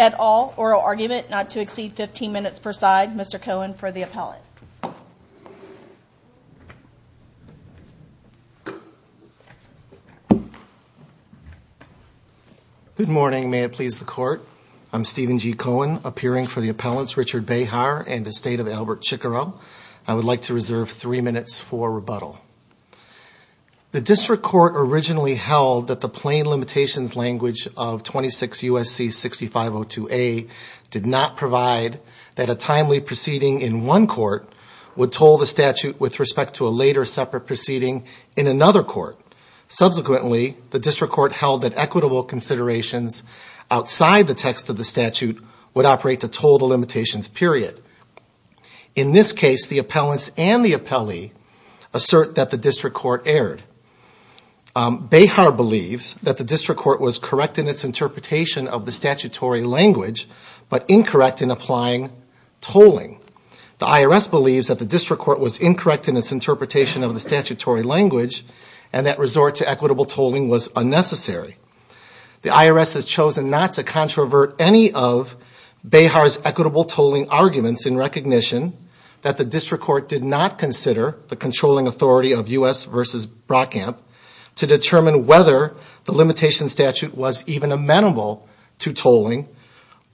at all, oral argument, not to exceed 15 minutes per side. Mr. Cohen for the appellate. Good morning. May it please the Court? I'm Stephen G. Cohen, appearing for the appellate's Richard Bayh-Harris. I'm here to speak on the case of Richard Bayh-Harr and Estate of Albert Chicorel. I would like to reserve three minutes for rebuttal. The District Court originally held that the plain limitations language of 26 U.S.C. 6502A did not provide that a timely proceeding in one court would toll the statute with respect to a later separate proceeding in another court. Subsequently, the District Court held that it did. In this case, the appellants and the appellee assert that the District Court erred. Bayh-Harr believes that the District Court was correct in its interpretation of the statutory language, but incorrect in applying tolling. The IRS believes that the District Court was incorrect in its interpretation of the statutory language and that resort to equitable tolling was unnecessary. The IRS has chosen not to apply the five-part test of Zipone v. U.S. to determine whether the limitation statute was even amenable to tolling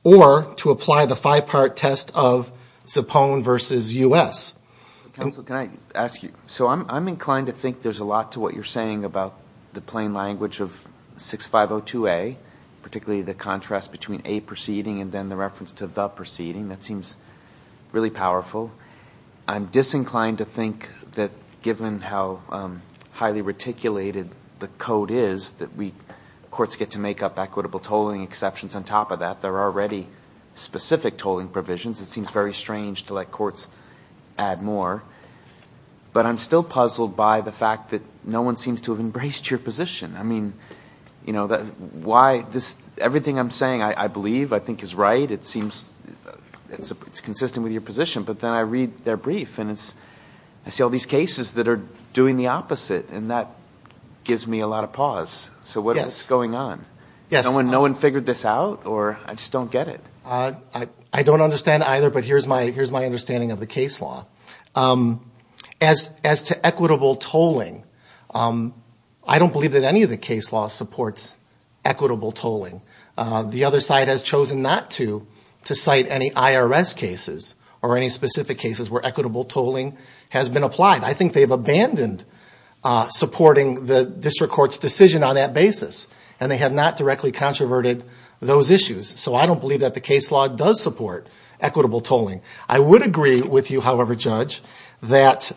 or to apply the five-part test of Zipone v. U.S. Counsel, can I ask you? So I'm inclined to think there's a lot to what you're saying about the plain language of 6502A, particularly the reference to the proceeding. That seems really powerful. I'm disinclined to think that given how highly reticulated the code is, that we, courts get to make up equitable tolling exceptions on top of that. There are already specific tolling provisions. It seems very strange to let courts add more. But I'm still puzzled by the fact that no one seems to have embraced your position. I mean, you know, why this, everything I'm saying is right. It seems it's consistent with your position. But then I read their brief, and I see all these cases that are doing the opposite, and that gives me a lot of pause. So what is going on? No one figured this out? Or I just don't get it? I don't understand either, but here's my understanding of the case law. As to equitable tolling, I don't believe that any of the case law supports equitable tolling. The other side has chosen not to, to cite any IRS cases or any specific cases where equitable tolling has been applied. I think they've abandoned supporting the district court's decision on that basis, and they have not directly controverted those issues. So I don't believe that the case law does support equitable tolling. I would agree with you, however, Judge, that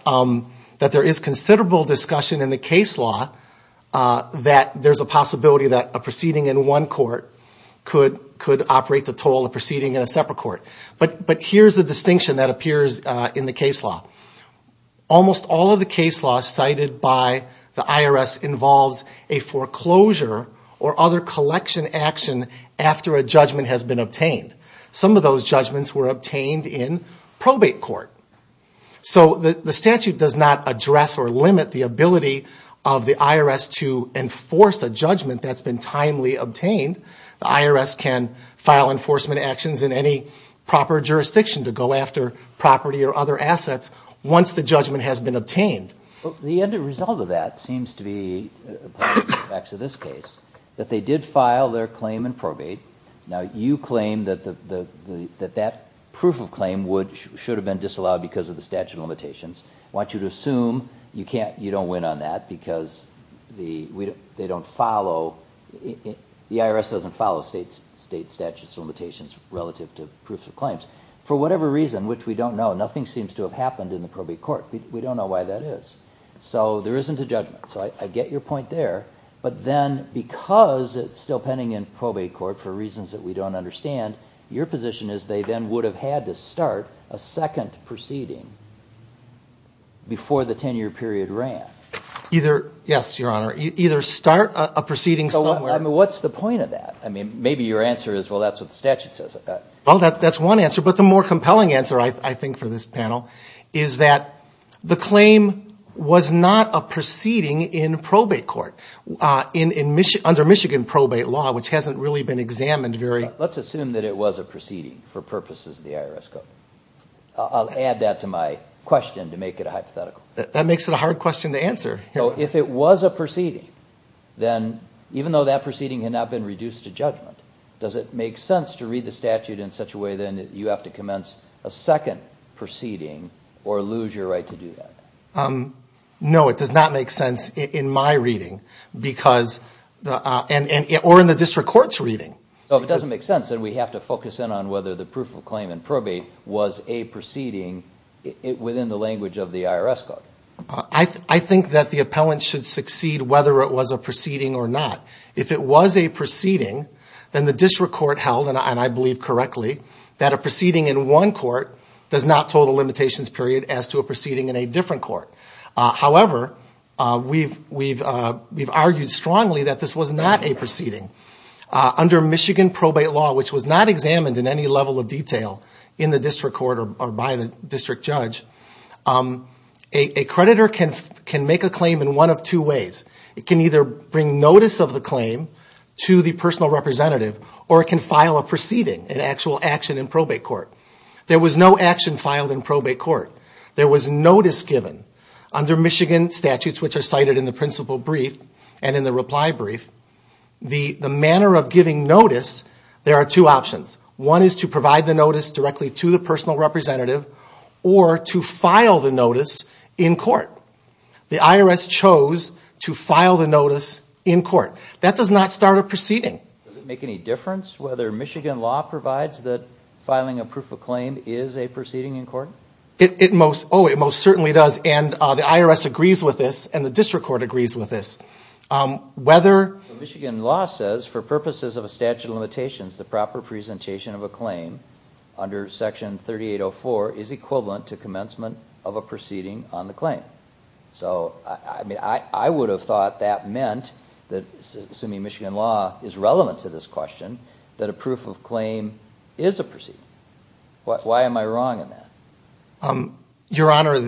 there is considerable discussion in the case law that there's a possibility that a proceeding in one court could operate the toll of proceeding in a separate court. But here's the distinction that appears in the case law. Almost all of the case law cited by the IRS involves a foreclosure or other collection action after a judgment has been obtained. Some of those judgments were obtained in probate court. So the statute does not address or limit the ability of the IRS to enforce a judgment that's been timely obtained. The IRS can file enforcement actions in any proper jurisdiction to go after property or other assets once the judgment has been obtained. The end result of that seems to be, by the effects of this case, that they did file their claim in probate. Now, you claim that that proof of claim should have been disallowed because of the statute of limitations. I want you to assume you don't win on that because the IRS doesn't follow state statute of limitations relative to proof of claims. For whatever reason, which we don't know, nothing seems to have happened in the probate court. We don't know why that is. So there isn't a judgment. So I get your point there. But then because it's still a case law, you would have had to start a second proceeding before the 10-year period ran. Yes, Your Honor. Either start a proceeding somewhere. What's the point of that? Maybe your answer is, well, that's what the statute says. Well, that's one answer. But the more compelling answer, I think, for this panel is that the claim was not a proceeding in probate court under Michigan probate law, which hasn't really been examined very... I'll add that to my question to make it a hypothetical. That makes it a hard question to answer. So if it was a proceeding, then even though that proceeding had not been reduced to judgment, does it make sense to read the statute in such a way that you have to commence a second proceeding or lose your right to do that? No, it does not make sense in my reading, or in the district court's reading. So if it doesn't make sense, then we have to focus in on whether the proof of claim in probate was a proceeding within the language of the IRS code. I think that the appellant should succeed whether it was a proceeding or not. If it was a proceeding, then the district court held, and I believe correctly, that a proceeding in one court does not toll the limitations period as to a proceeding in a different court. However, we've argued strongly that this was not a proceeding. Under Michigan probate law, which was not examined in any level of detail in the district court or by the district judge, a creditor can make a claim in one of two ways. It can either bring notice of the claim to the personal representative, or it can file a proceeding, an actual action in probate court. There was no action filed in probate court. There was notice given under Michigan statutes, which are cited in the principal brief and in the reply brief. The manner of giving notice, there are two options. One is to provide the notice directly to the personal representative, or to file the notice in court. The IRS chose to file the notice in court. That does not start a proceeding. Does it make any difference whether Michigan law provides that filing a proof of claim is a proceeding in court? It most certainly does, and the IRS agrees with this, and the district court agrees with this. Michigan law says, for purposes of a statute of limitations, the proper presentation of a claim under Section 3804 is equivalent to commencement of a proceeding on the claim. I would have thought that meant, assuming Michigan law is relevant to the statute of limitations, that the claim would be filed in court. But it's not relevant to this question that a proof of claim is a proceeding. Why am I wrong in that? Your Honor,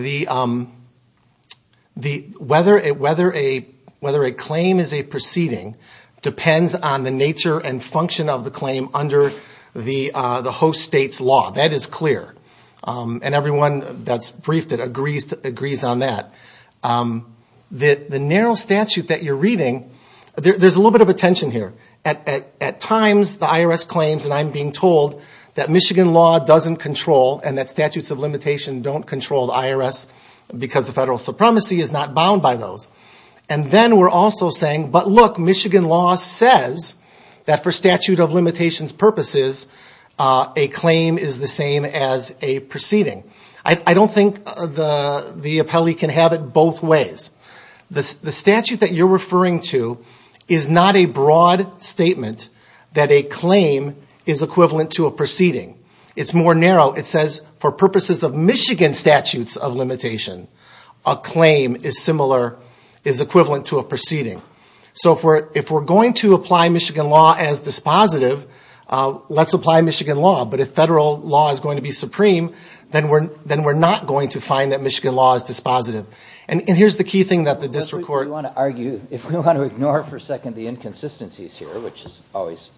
whether a claim is a proceeding depends on the nature and function of the claim under the host state's law. That is clear, and everyone that's briefed it agrees on that. The narrow statute that you're reading, there's a little bit of a tension here. At times, the IRS claims, and I'm being told, that Michigan law doesn't control, and that statutes of limitation don't control the IRS, because the federal supremacy is not bound by those. And then we're also saying, but look, Michigan law says that for statute of limitations purposes, a claim is the same as a proceeding. I don't think the appellee can have it both ways. The statute that you're referring to is not a broad statement that a claim is equivalent to a proceeding. It's more narrow. It says, for purposes of Michigan statutes of limitation, a claim is similar, is equivalent to a proceeding. So if we're going to apply Michigan law as dispositive, let's apply Michigan law. But if federal law is going to be supreme, then we're not going to find that Michigan law is dispositive. And here's the key thing that the district court... If we want to ignore for a second the inconsistencies here, which is always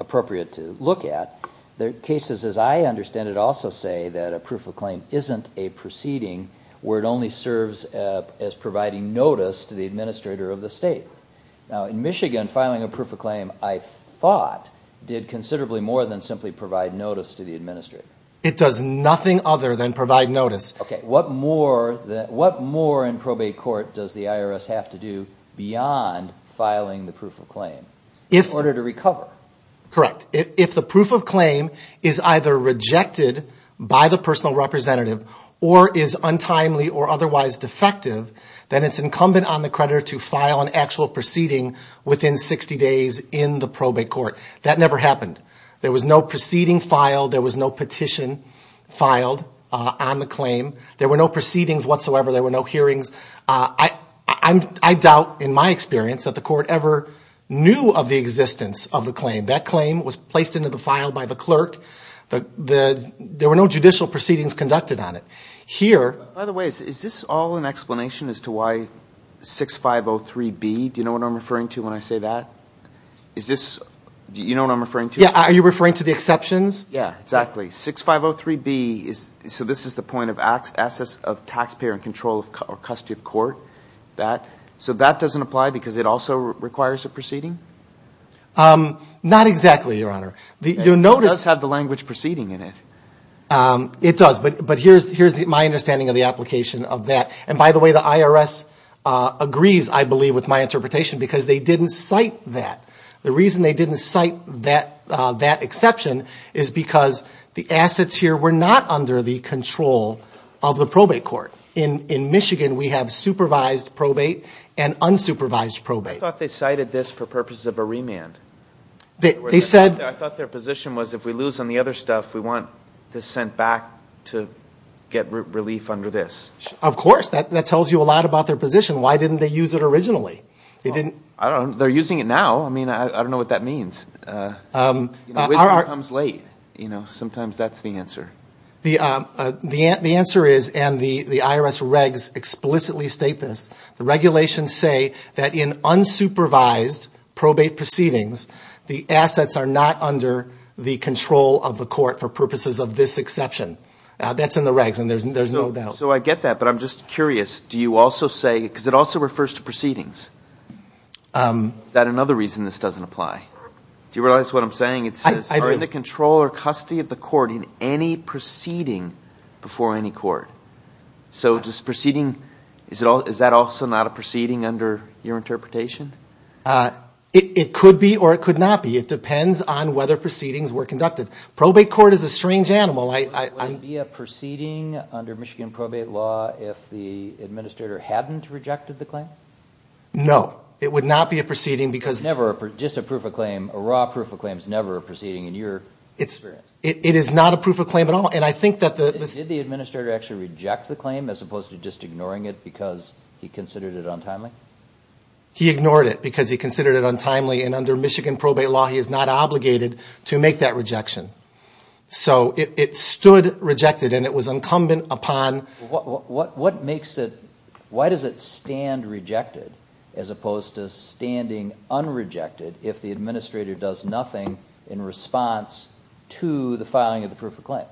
appropriate to look at, the cases as I understand it also say that a proof of claim isn't a proceeding where it only serves as providing notice to the administrator of the state. Now, in Michigan, filing a proof of claim, I thought, did considerably more than simply provide notice to the administrator. It does nothing other than provide notice. Okay. What more in probate court does the IRS have to do beyond filing the proof of claim in order to recover? Correct. If the proof of claim is either rejected by the personal representative or is untimely or otherwise defective, then it's incumbent on the creditor to file an actual proof of claim. That's a judicial proceeding within 60 days in the probate court. That never happened. There was no proceeding filed. There was no petition filed on the claim. There were no proceedings whatsoever. There were no hearings. I doubt, in my experience, that the court ever knew of the existence of the claim. That claim was placed into the file by the clerk. There were no judicial proceedings conducted on it. By the way, is this all an explanation as to why 6503B, do you know what I'm referring to when I say that? Is this, do you know what I'm referring to? Yeah. Are you referring to the exceptions? Yeah, exactly. 6503B is, so this is the point of access of taxpayer and control of custody of court, that. So that doesn't apply because it also requires a proceeding? Not exactly, Your Honor. It does have the language proceeding in it. It does, but here's my understanding of the application of that. And by the way, the IRS agrees, I believe, with my interpretation, because they didn't cite that. The reason they didn't cite that exception is because the assets here were not under the control of the probate court. In Michigan, we have supervised probate and unsupervised probate. I thought they cited this for purposes of a remand. I thought their position was if we lose on the other stuff, we want this sent back to get relief under this. Of course. That tells you a lot about their position. Why didn't they use it originally? They're using it now. I mean, I don't know what that means. The answer is, and the IRS regs explicitly state this, the regulations say that in unsupervised probate proceedings, the assets are not under the control of the court for purposes of this exception. That's in the regs, and there's no doubt. So I get that, but I'm just curious, do you also say, because it also refers to proceedings, is that another reason this doesn't apply? Do you realize what I'm saying? It says, are in the control or custody of the court in any proceeding before any court? So does proceeding, is that also not a proceeding under your interpretation? It could be or it could not be. It depends on whether proceedings were conducted. Would it be a proceeding under Michigan probate law if the administrator hadn't rejected the claim? No. It would not be a proceeding because... Just a proof of claim, a raw proof of claim is never a proceeding in your experience? It is not a proof of claim at all. Did the administrator actually reject the claim as opposed to just ignoring it because he considered it untimely? He ignored it because he considered it untimely, and under Michigan probate law he is not obligated to make that rejection. So it stood rejected and it was incumbent upon... Why does it stand rejected as opposed to standing unrejected if the administrator does nothing in response to the filing of the proof of claim?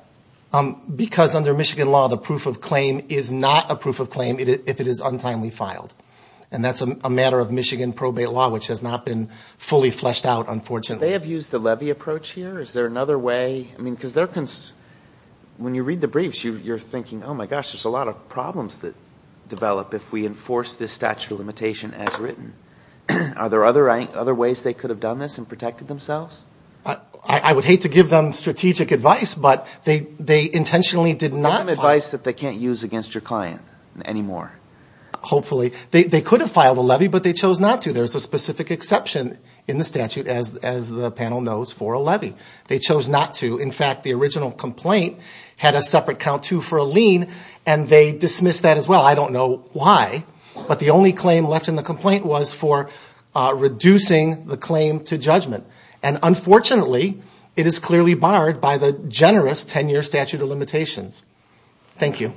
Because under Michigan law the proof of claim is not a proof of claim if it is untimely filed. And that's a matter of Michigan probate law, which has not been fully fleshed out, unfortunately. Would they have used the levy approach here? Is there another way? Because when you read the briefs you're thinking, oh my gosh, there's a lot of problems that develop if we enforce this statute of limitation as written. Are there other ways they could have done this and protected themselves? I would hate to give them strategic advice, but they intentionally did not file... Not advice that they can't use against your client anymore? Hopefully. They could have filed a levy, but they chose not to. There's a specific exception in the statute, as the panel knows, for a levy. They chose not to. In fact, the original complaint had a separate count-to for a lien, and they dismissed that as well. I don't know why, but the only claim left in the complaint was for reducing the claim to judgment. And unfortunately, it is clearly barred by the generous 10-year statute of limitations. Thank you.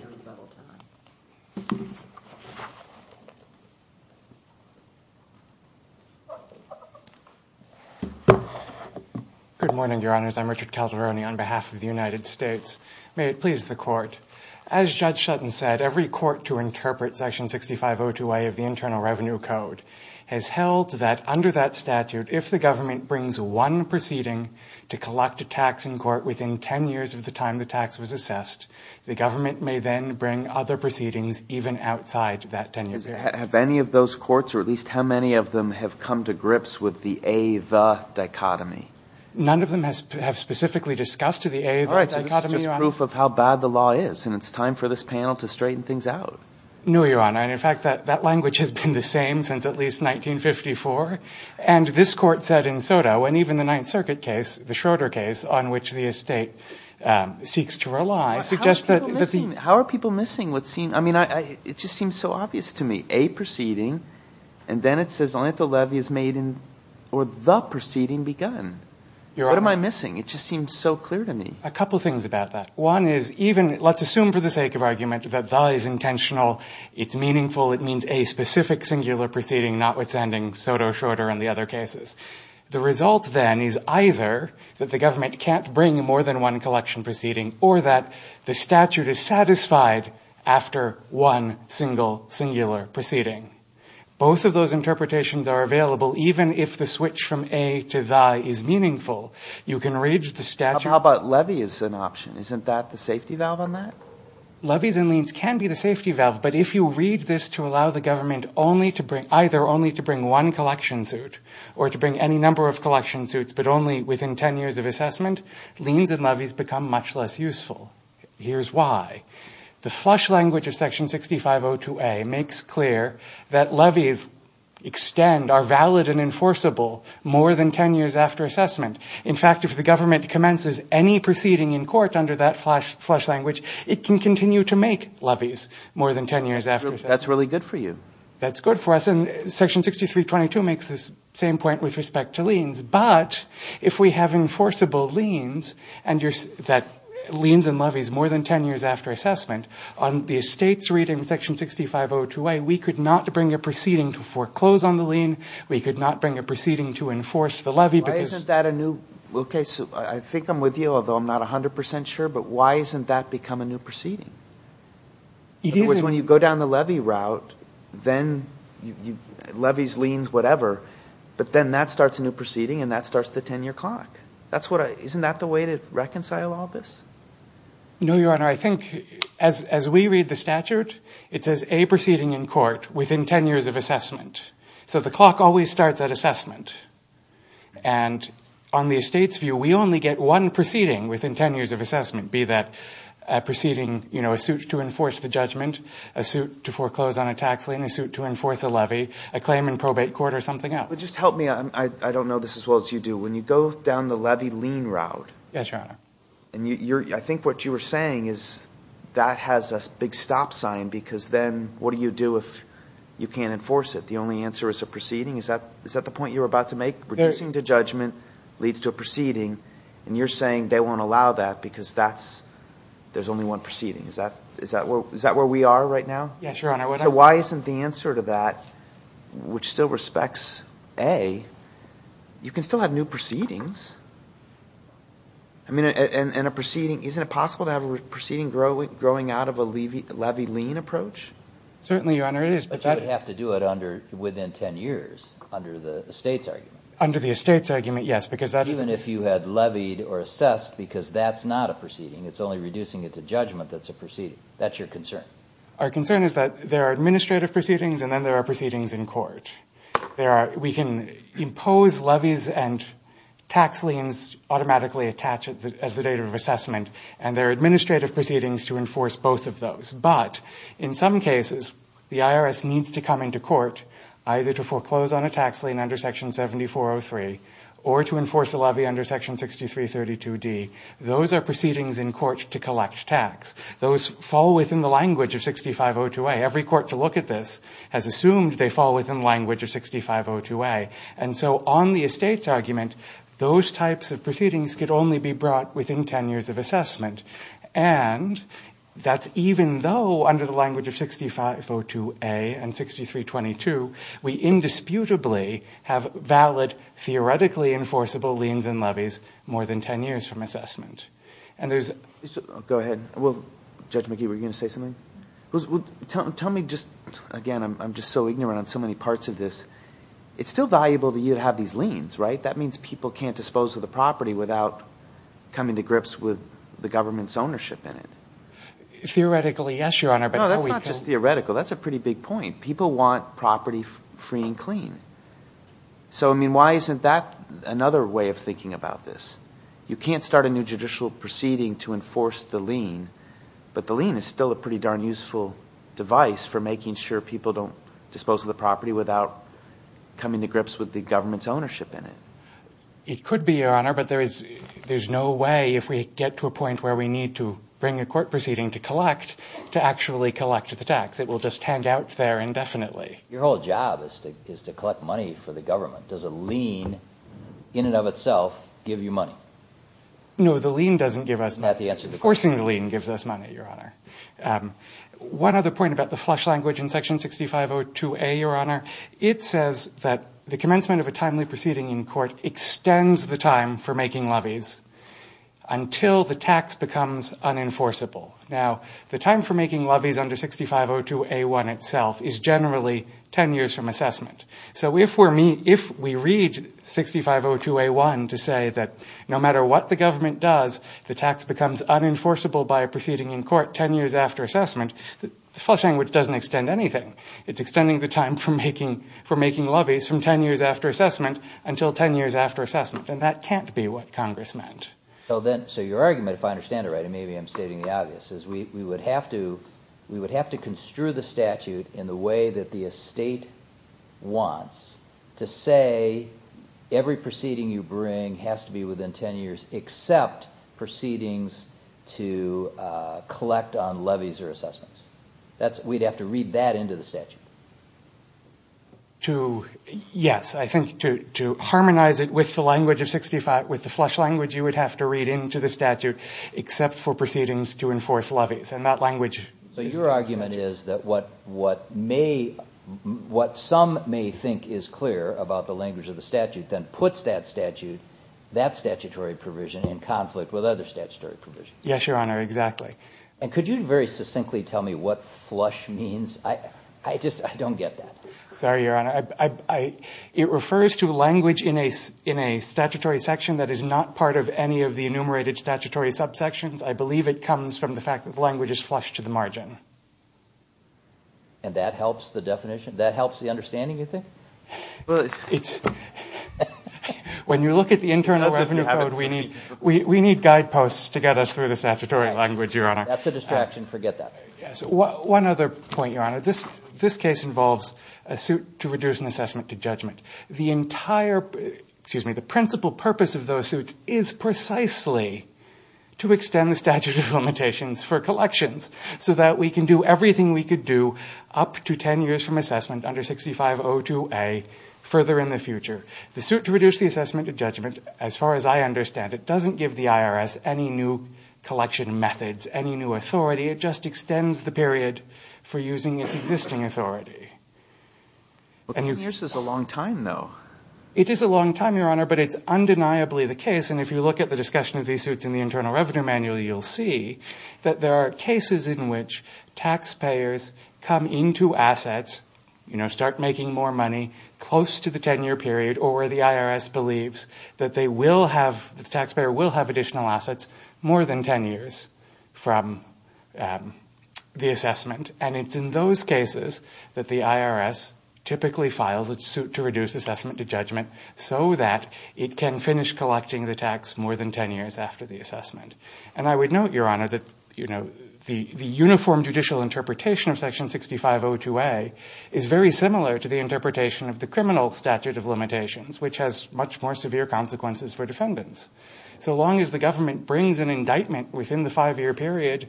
Good morning, Your Honors. I'm Richard Calderoni on behalf of the United States. As Judge Shutton said, every court to interpret Section 6502A of the Internal Revenue Code has held that under that statute, if the government brings one proceeding to collect a tax in court within 10 years of the time the tax was assessed, the government may then bring other proceedings even outside that 10-year period. Have any of those courts, or at least how many of them, have come to grips with the a-the dichotomy? None of them have specifically discussed the a-the dichotomy, Your Honor. All right, so this is just proof of how bad the law is, and it's time for this panel to straighten things out. No, Your Honor. And in fact, that language has been the same since at least 1954. And this Court said in Soto, and even the Ninth Circuit case, the Schroeder case, on which the estate seeks to rely, suggests that the... How are people missing what's seen? I mean, it just seems so obvious to me. A proceeding, and then it says only if the levy is made in, or the proceeding begun. What am I missing? It just seems so clear to me. A couple things about that. One is, even, let's assume for the sake of argument that the is intentional, it's meaningful, it means a specific singular proceeding, not what's ending Soto, Schroeder, and the other cases. The result then is either that the government can't bring more than one collection proceeding, or that the statute is satisfied after one single singular proceeding. Both of those interpretations are available, even if the switch from a to the is meaningful. You can read the statute... How about levy as an option? Isn't that the safety valve on that? Levies and liens can be the safety valve, but if you read this to allow the government either only to bring one collection suit, or to bring any number of collection suits, but only within 10 years of assessment, liens and levies become much less useful. Here's why. The flush language of section 6502A makes clear that levies extend, are valid and enforceable, more than 10 years after assessment. In fact, if the government commences any proceeding in court under that flush language, it can continue to make levies more than 10 years after assessment. That's really good for you. That's good for us, and section 6322 makes the same point with respect to liens. But if we have enforceable liens, and liens and levies more than 10 years after assessment, on the estate's reading, section 6502A, we could not bring a proceeding to foreclose on the lien, we could not bring a proceeding to enforce the levy because... I think I'm with you, although I'm not 100% sure, but why isn't that become a new proceeding? In other words, when you go down the levy route, then levies, liens, whatever, but then that starts a new proceeding and that starts the 10-year clock. Isn't that the way to reconcile all this? No, Your Honor. I think as we read the statute, it says, A, proceeding in court within 10 years of assessment. So the clock always starts at assessment. And on the estate's view, we only get one proceeding within 10 years of assessment, be that a proceeding, you know, a suit to enforce the judgment, a suit to foreclose on a tax lien, a suit to enforce a levy, a claim in probate court, or something else. But just help me, I don't know this as well as you do, when you go down the levy lien route... Yes, Your Honor. I think what you were saying is that has a big stop sign, because then what do you do if you can't enforce it? The only answer is a proceeding? Is that the point you were about to make? Reducing to judgment leads to a proceeding, and you're saying they won't allow that because there's only one proceeding. Is that where we are right now? Yes, Your Honor. So why isn't the answer to that, which still respects A, you can still have new proceedings? I mean, and a proceeding, isn't it possible to have a proceeding growing out of a levy lien approach? Certainly, Your Honor, it is. But you would have to do it within 10 years under the estate's argument. Even if you had levied or assessed, because that's not a proceeding, it's only reducing it to judgment that's a proceeding. That's your concern? Our concern is that there are administrative proceedings, and then there are proceedings in court. We can impose levies and tax liens automatically attached as the date of assessment, and there are administrative proceedings to enforce both of those. But in some cases, the IRS needs to come into court either to foreclose on a tax lien under Section 7403, or to enforce both of those. Or to enforce a levy under Section 6332D. Those are proceedings in court to collect tax. Those fall within the language of 6502A. Every court to look at this has assumed they fall within the language of 6502A. And so on the estate's argument, those types of proceedings could only be brought within 10 years of assessment. And that's even though, under the language of 6502A and 6322, we indisputably have valid, theoretically enforceable liens and levies more than 10 years from assessment. Go ahead. Judge McGee, were you going to say something? Again, I'm just so ignorant on so many parts of this. It's still valuable to you to have these liens, right? That means people can't dispose of the property without coming to grips with the government's ownership in it. Theoretically, yes, Your Honor. No, that's not just theoretical. That's a pretty big point. People want property free and clean. So, I mean, why isn't that another way of thinking about this? You can't start a new judicial proceeding to enforce the lien, but the lien is still a pretty darn useful device for making sure people don't dispose of the property without coming to grips with the government's ownership in it. It could be, Your Honor, but there's no way, if we get to a point where we need to bring a court proceeding to collect, to actually collect the tax. It will just hang out there indefinitely. Your whole job is to collect money for the government. Does a lien, in and of itself, give you money? No, the lien doesn't give us money. Forcing the lien gives us money, Your Honor. One other point about the flush language in Section 6502A, Your Honor. It says that the commencement of a timely proceeding in court extends the time for making levies until the tax becomes unenforceable. Now, the time for making levies under 6502A1 itself is generally 10 years from assessment. So if we read 6502A1 to say that no matter what the government does, the tax becomes unenforceable by a proceeding in court 10 years after assessment, the flush language doesn't extend anything. It's extending the time for making levies from 10 years after assessment until 10 years after assessment. And that can't be what Congress meant. We would have to construe the statute in the way that the estate wants to say every proceeding you bring has to be within 10 years, except proceedings to collect on levies or assessments. We'd have to read that into the statute. Yes, I think to harmonize it with the language of 65, with the flush language, you would have to read into the statute, except for proceedings to enforce levies. So your argument is that what some may think is clear about the language of the statute then puts that statute, that statutory provision, in conflict with other statutory provisions. Yes, Your Honor, exactly. And could you very succinctly tell me what flush means? I just don't get that. Sorry, Your Honor. It refers to language in a statutory section that is not part of any of the enumerated statutory subsections. I believe it comes from the fact that the language is flush to the margin. And that helps the definition? That helps the understanding, you think? When you look at the Internal Revenue Code, we need guideposts to get us through the statutory language, Your Honor. That's a distraction. Forget that. That's a distraction. The principle purpose of those suits is precisely to extend the statute of limitations for collections. So that we can do everything we could do up to 10 years from assessment under 6502A further in the future. The suit to reduce the assessment of judgment, as far as I understand it, doesn't give the IRS any new collection methods, any new authority. It just extends the period for using its existing authority. Well, 10 years is a long time, though. It is a long time, Your Honor, but it's undeniably the case. And if you look at the discussion of these suits in the Internal Revenue Manual, you'll see that there are cases in which taxpayers come into assets, start making more money close to the 10-year period, or the IRS believes that the taxpayer will have additional assets more than 10 years from assessment. And it's in those cases that the IRS typically files a suit to reduce assessment to judgment, so that it can finish collecting the tax more than 10 years after the assessment. And I would note, Your Honor, that the uniform judicial interpretation of section 6502A is very similar to the interpretation of the criminal statute of limitations, which has much more severe consequences for defendants. So long as the government brings an indictment within the five-year period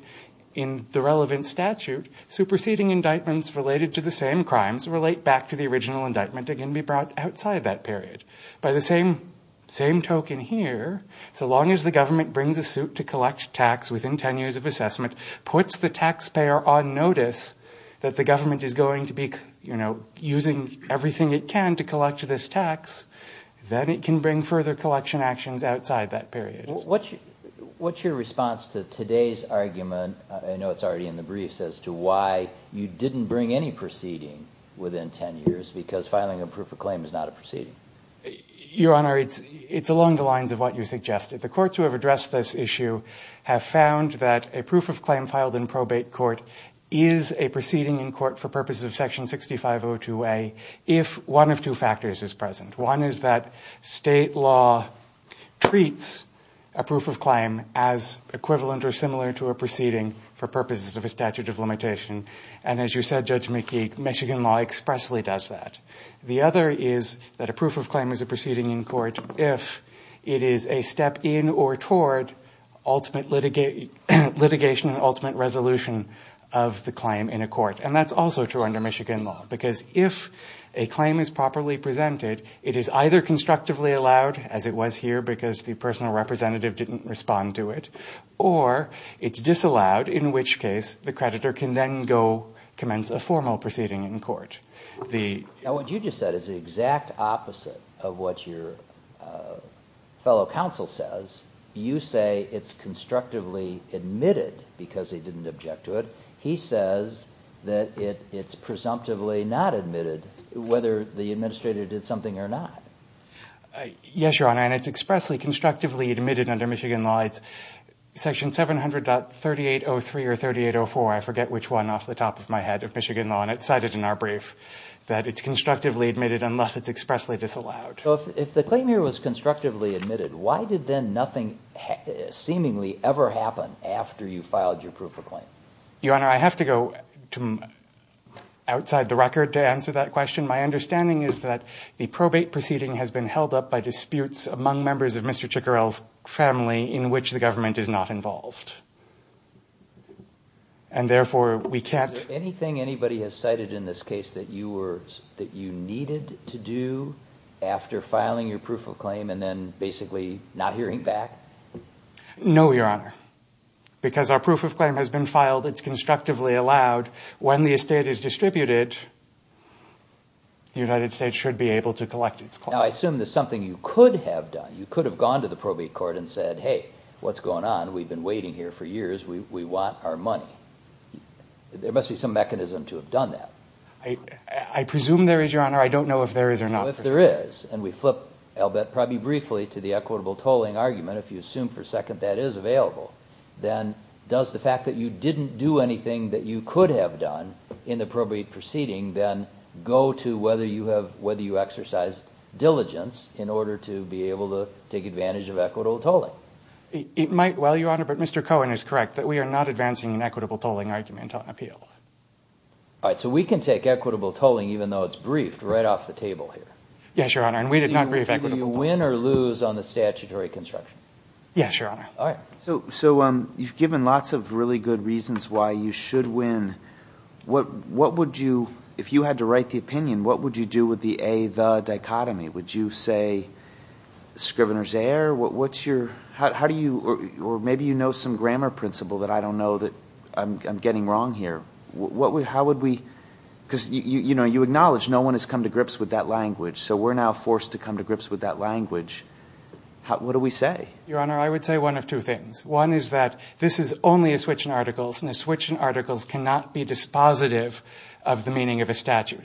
in the relevant statute, superseding indictments related to the same crimes relate back to the original indictment and can be brought outside that period. By the same token here, so long as the government brings a suit to collect tax within 10 years of assessment, puts the taxpayer on notice that the government is going to be using everything it can to collect this tax, then it can bring further collection actions outside that period. What's your response to today's argument, I know it's already in the briefs, as to why you didn't bring any proceeding within 10 years, because filing a proof of claim is not a proceeding? Your Honor, it's along the lines of what you suggested. The courts who have addressed this issue have found that a proof of claim filed in probate court is a proceeding in court for purposes of section 6502A, if one of two factors is present. One is that state law treats a proof of claim as equivalent or similar to a proceeding for purposes of a statute of limitation. And as you said, Judge McKee, Michigan law expressly does that. The other is that a proof of claim is a proceeding in court if it is a step in or toward ultimate litigation and ultimate resolution of the claim in a court. And that's also true under Michigan law, because if a claim is properly presented, it is either constructively allowed, as it was here because the personal representative didn't respond to it, or it's disallowed, in which case the creditor can then go commence a formal proceeding in court. Now what you just said is the exact opposite of what your fellow counsel says. You say it's constructively admitted because he didn't object to it. He says that it's presumptively not admitted, whether the administrator did something or not. Yes, Your Honor, and it's expressly, constructively admitted under Michigan law. It's section 700.3803 or 3804, I forget which one, off the top of my head of Michigan law, and it's cited in our brief, that it's constructively admitted unless it's expressly disallowed. So if the claim here was constructively admitted, why did then nothing seemingly ever happen after you filed your proof of claim? Your Honor, I have to go outside the record to answer that question. My understanding is that the probate proceeding has been held up by disputes among members of Mr. Chickorell's family in which the government is not involved. Is there anything anybody has cited in this case that you needed to do after filing your proof of claim and then basically not hearing back? No, Your Honor, because our proof of claim has been filed. It's constructively allowed. When the estate is distributed, the United States should be able to collect its claim. Now, I assume there's something you could have done. You could have gone to the probate court and said, hey, what's going on? We've been waiting here for years. We want our money. There must be some mechanism to have done that. I presume there is, Your Honor. I don't know if there is or not. If there is, and we flip probably briefly to the equitable tolling argument, if you assume for a second that is available, then does the fact that you didn't do anything that you could have done in the probate proceeding then go to whether you exercised diligence in order to be able to take advantage of equitable tolling? It might, Your Honor, but Mr. Cohen is correct that we are not advancing an equitable tolling argument on appeal. All right, so we can take equitable tolling even though it's briefed right off the table here. Yes, Your Honor, and we did not brief equitable tolling. Do you win or lose on the statutory construction? Yes, Your Honor. All right. So you've given lots of really good reasons why you should win. What would you – if you had to write the opinion, what would you do with the A-the dichotomy? Would you say Scrivener's error? Or maybe you know some grammar principle that I don't know that I'm getting wrong here. How would we – because you acknowledge no one has come to grips with that language, so we're now forced to come to grips with that language. What do we say? Your Honor, I would say one of two things. One is that this is only a switch in articles, and a switch in articles cannot be dispositive of the meaning of a statute.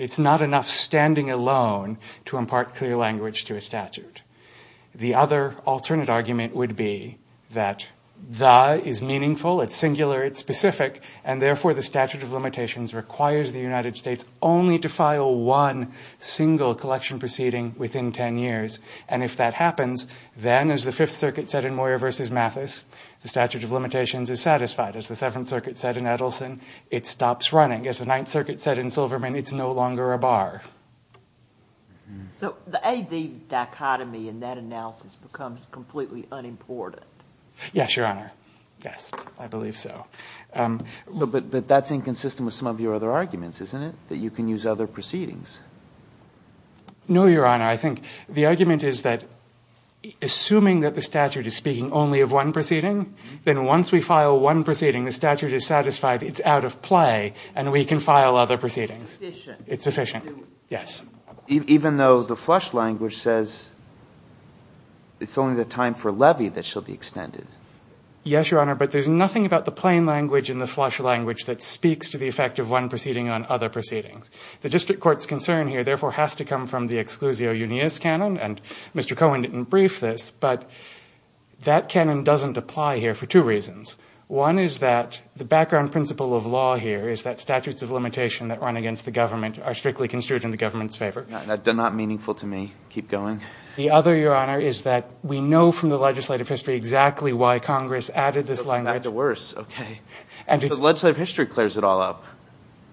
The other alternate argument would be that the is meaningful, it's singular, it's specific, and therefore the statute of limitations requires the United States only to file one single collection proceeding within ten years. And if that happens, then as the Fifth Circuit said in Moyer v. Mathis, the statute of limitations is satisfied. As the Seventh Circuit said in Edelson, it stops running. As the Ninth Circuit said in Silverman, it's no longer a bar. So the A-D dichotomy in that analysis becomes completely unimportant. Yes, Your Honor. Yes, I believe so. But that's inconsistent with some of your other arguments, isn't it, that you can use other proceedings? No, Your Honor. I think the argument is that assuming that the statute is speaking only of one proceeding, then once we file one proceeding, the statute is satisfied, it's out of play, and we can file other proceedings. It's sufficient. Yes. Even though the flush language says it's only the time for levy that shall be extended. Yes, Your Honor, but there's nothing about the plain language and the flush language that speaks to the effect of one proceeding on other proceedings. The district court's concern here therefore has to come from the exclusio unius canon, and Mr. Cohen didn't brief this, but that canon doesn't apply here for two reasons. One is that the background principle of law here is that statutes of limitation that run against the government are strictly construed in the government's favor. That's not meaningful to me. Keep going. The other, Your Honor, is that we know from the legislative history exactly why Congress added this language. That's worse. Okay. The legislative history clears it all up,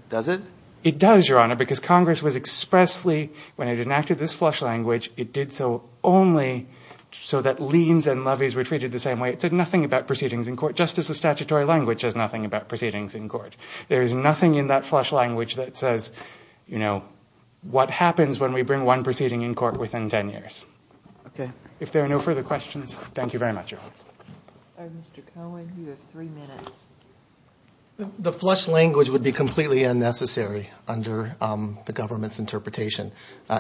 does it? It does, Your Honor, because Congress was expressly, when it enacted this flush language, it did so only so that liens and levies were treated the same way. It said nothing about proceedings in court, just as the statutory language says nothing about proceedings in court. There is nothing in that flush language that says, you know, what happens when we bring one proceeding in court within ten years. Okay. If there are no further questions, thank you very much, Your Honor. Mr. Cohen, you have three minutes. The flush language would be completely unnecessary under the government's interpretation.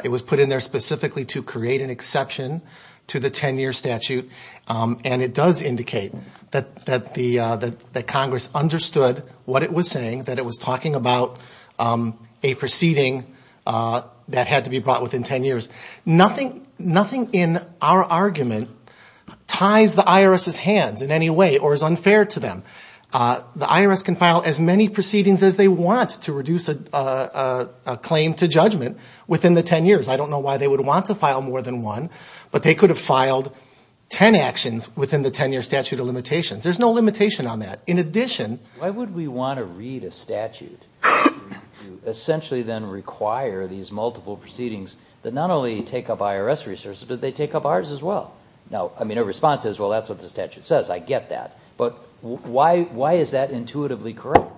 It was put in there specifically to create an exception to the ten-year statute, and it does indicate that Congress understood what it was saying, that it was talking about a proceeding that had to be brought within ten years. Nothing in our argument ties the IRS's hands in any way or is unfair to them. The IRS can file as many proceedings as they want to reduce a claim to judgment within the ten years. I don't know why they would want to file more than one, but they could have filed ten actions within the ten-year statute of limitations. There's no limitation on that. In addition to that. Why would we want to read a statute to essentially then require these multiple proceedings that not only take up IRS resources, but they take up ours as well? Now, I mean, a response is, well, that's what the statute says. I get that. But why is that intuitively correct?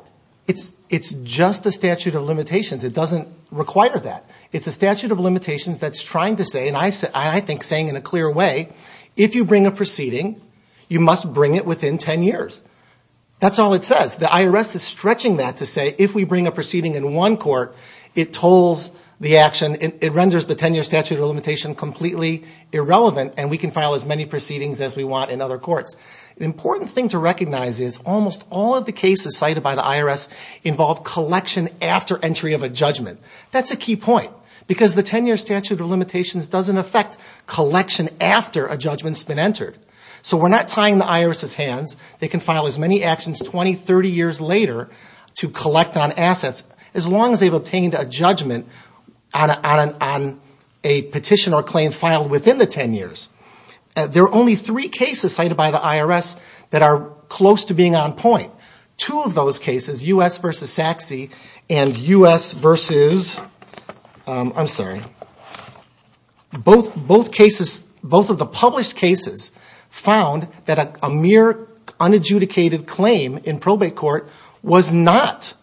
It's just a statute of limitations. It doesn't require that. It's a statute of limitations that's trying to say, and I think saying in a clear way, if you bring a proceeding, you must bring it within ten years. That's all it says. The IRS is stretching that to say if we bring a proceeding in one court, it tolls the action, it renders the ten-year statute of limitation completely irrelevant, and we can file as many proceedings as we want in other courts. The important thing to recognize is almost all of the cases cited by the IRS involve collection after entry of a judgment. That's a key point because the ten-year statute of limitations doesn't affect collection after a judgment's been entered. So we're not tying the IRS's hands. They can file as many actions 20, 30 years later to collect on assets as long as they've obtained a judgment on a petition or claim filed within the ten years. There are only three cases cited by the IRS that are close to being on point. Two of those cases, U.S. v. Sachse and U.S. v. I'm sorry, both cases, both of the published cases, found that a mere unadjudicated claim in probate court was not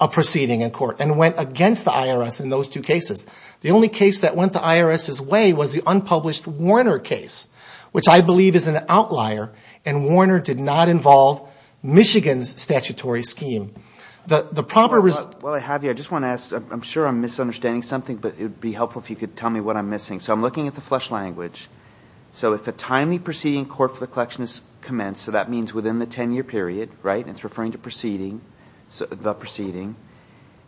a proceeding in court and went against the IRS in those two cases. The only case that went the IRS's way was the unpublished Warner case, which I believe is an outlier, and Warner did not involve Michigan's statutory scheme. The proper reason... While I have you, I just want to ask, I'm sure I'm misunderstanding something, but it would be helpful if you could tell me what I'm missing. So I'm looking at the flesh language. So if a timely proceeding court for the collection is commenced, so that means within the ten-year period, right, and it's referring to proceeding, the proceeding,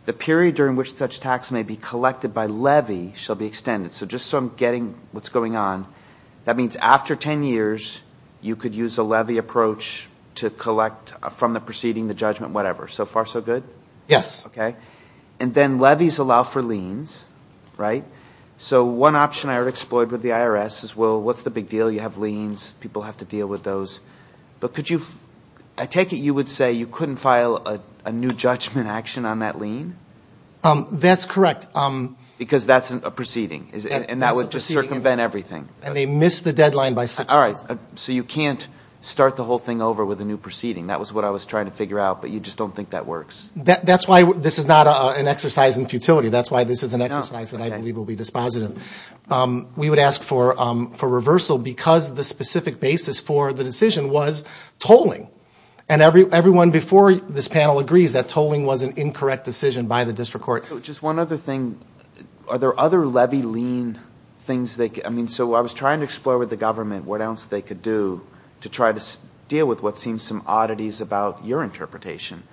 the period during which such tax may be collected by levy shall be extended. So just so I'm getting what's going on, that means after ten years, you could use a levy approach to collect from the proceeding, the judgment, whatever. So far so good? Yes. Okay. And then levies allow for liens, right? So one option I already exploited with the IRS is, well, what's the big deal? You have liens. People have to deal with those. But could you... I take it you would say you couldn't file a new judgment action on that lien? That's correct. Because that's a proceeding. And that would just circumvent everything. And they missed the deadline by six months. All right. So you can't start the whole thing over with a new proceeding. That was what I was trying to figure out, but you just don't think that works? That's why this is not an exercise in futility. That's why this is an exercise that I believe will be dispositive. We would ask for reversal because the specific basis for the decision was tolling. And everyone before this panel agrees that tolling was an incorrect decision by the district court. Just one other thing. Are there other levy lien things they could... I mean, so I was trying to explore with the government what else they could do to try to deal with what seems some oddities about your interpretation.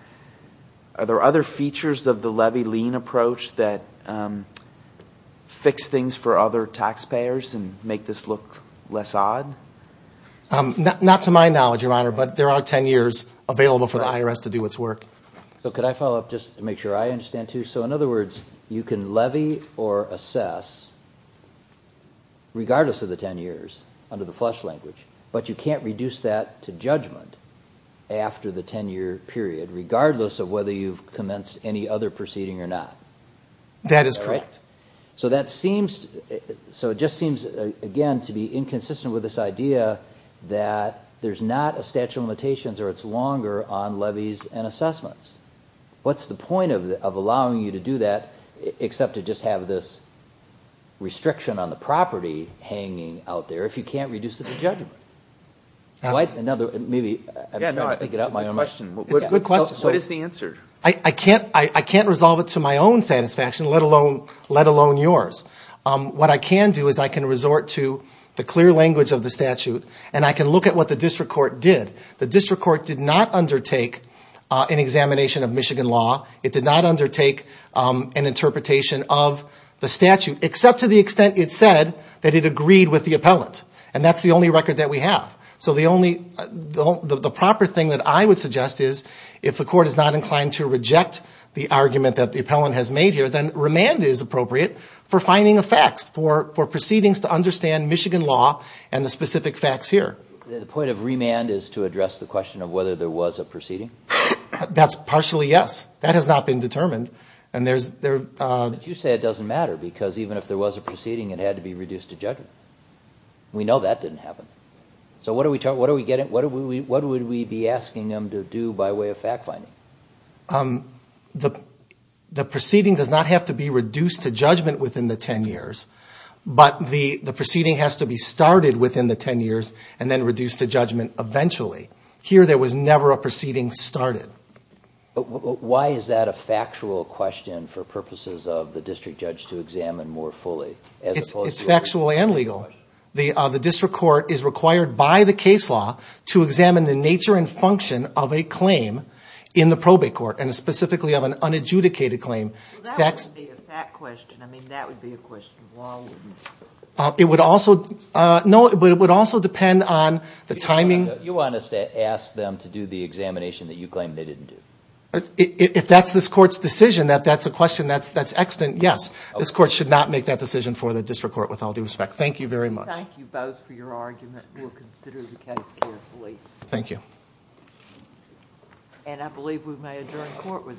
Are there other features of the levy lien approach that fix things for other taxpayers and make this look less odd? Not to my knowledge, Your Honor, but there are 10 years available for the IRS to do its work. Could I follow up just to make sure I understand, too? So in other words, you can levy or assess regardless of the 10 years under the FLUSH language, but you can't reduce that to judgment after the 10-year period regardless of whether you've commenced any other proceeding or not. That is correct. So it just seems, again, to be inconsistent with this idea that there's not a statute of limitations or it's longer on levies and assessments. What's the point of allowing you to do that except to just have this restriction on the property hanging out there if you can't reduce it to judgment? Another, maybe, I'm trying to figure out my own question. It's a good question. What is the answer? I can't resolve it to my own satisfaction, let alone yours. What I can do is I can resort to the clear language of the statute and I can look at what the district court did. The district court did not undertake an examination of Michigan law. It did not undertake an interpretation of the statute except to the extent it said that it agreed with the appellant. And that's the only record that we have. So the only proper thing that I would suggest is if the court is not inclined to reject the argument that the appellant has made here, then remand is appropriate for finding a fact, for proceedings to understand Michigan law and the specific facts here. The point of remand is to address the question of whether there was a proceeding? That's partially yes. That has not been determined. But you say it doesn't matter because even if there was a proceeding, it had to be reduced to judgment. We know that didn't happen. So what would we be asking them to do by way of fact finding? The proceeding does not have to be reduced to judgment within the 10 years, but the proceeding has to be started within the 10 years, and then reduced to judgment eventually. Here there was never a proceeding started. Why is that a factual question for purposes of the district judge to examine more fully? It's factual and legal. The district court is required by the case law to examine the nature and function of a claim in the probate court, and specifically of an unadjudicated claim. That would be a fact question. I mean, that would be a question. It would also depend on the timing. You want us to ask them to do the examination that you claim they didn't do? If that's this court's decision, that that's a question that's extant, yes. This court should not make that decision for the district court with all due respect. Thank you very much. Thank you both for your argument. We'll consider the case carefully. Thank you. And I believe we may adjourn court with that.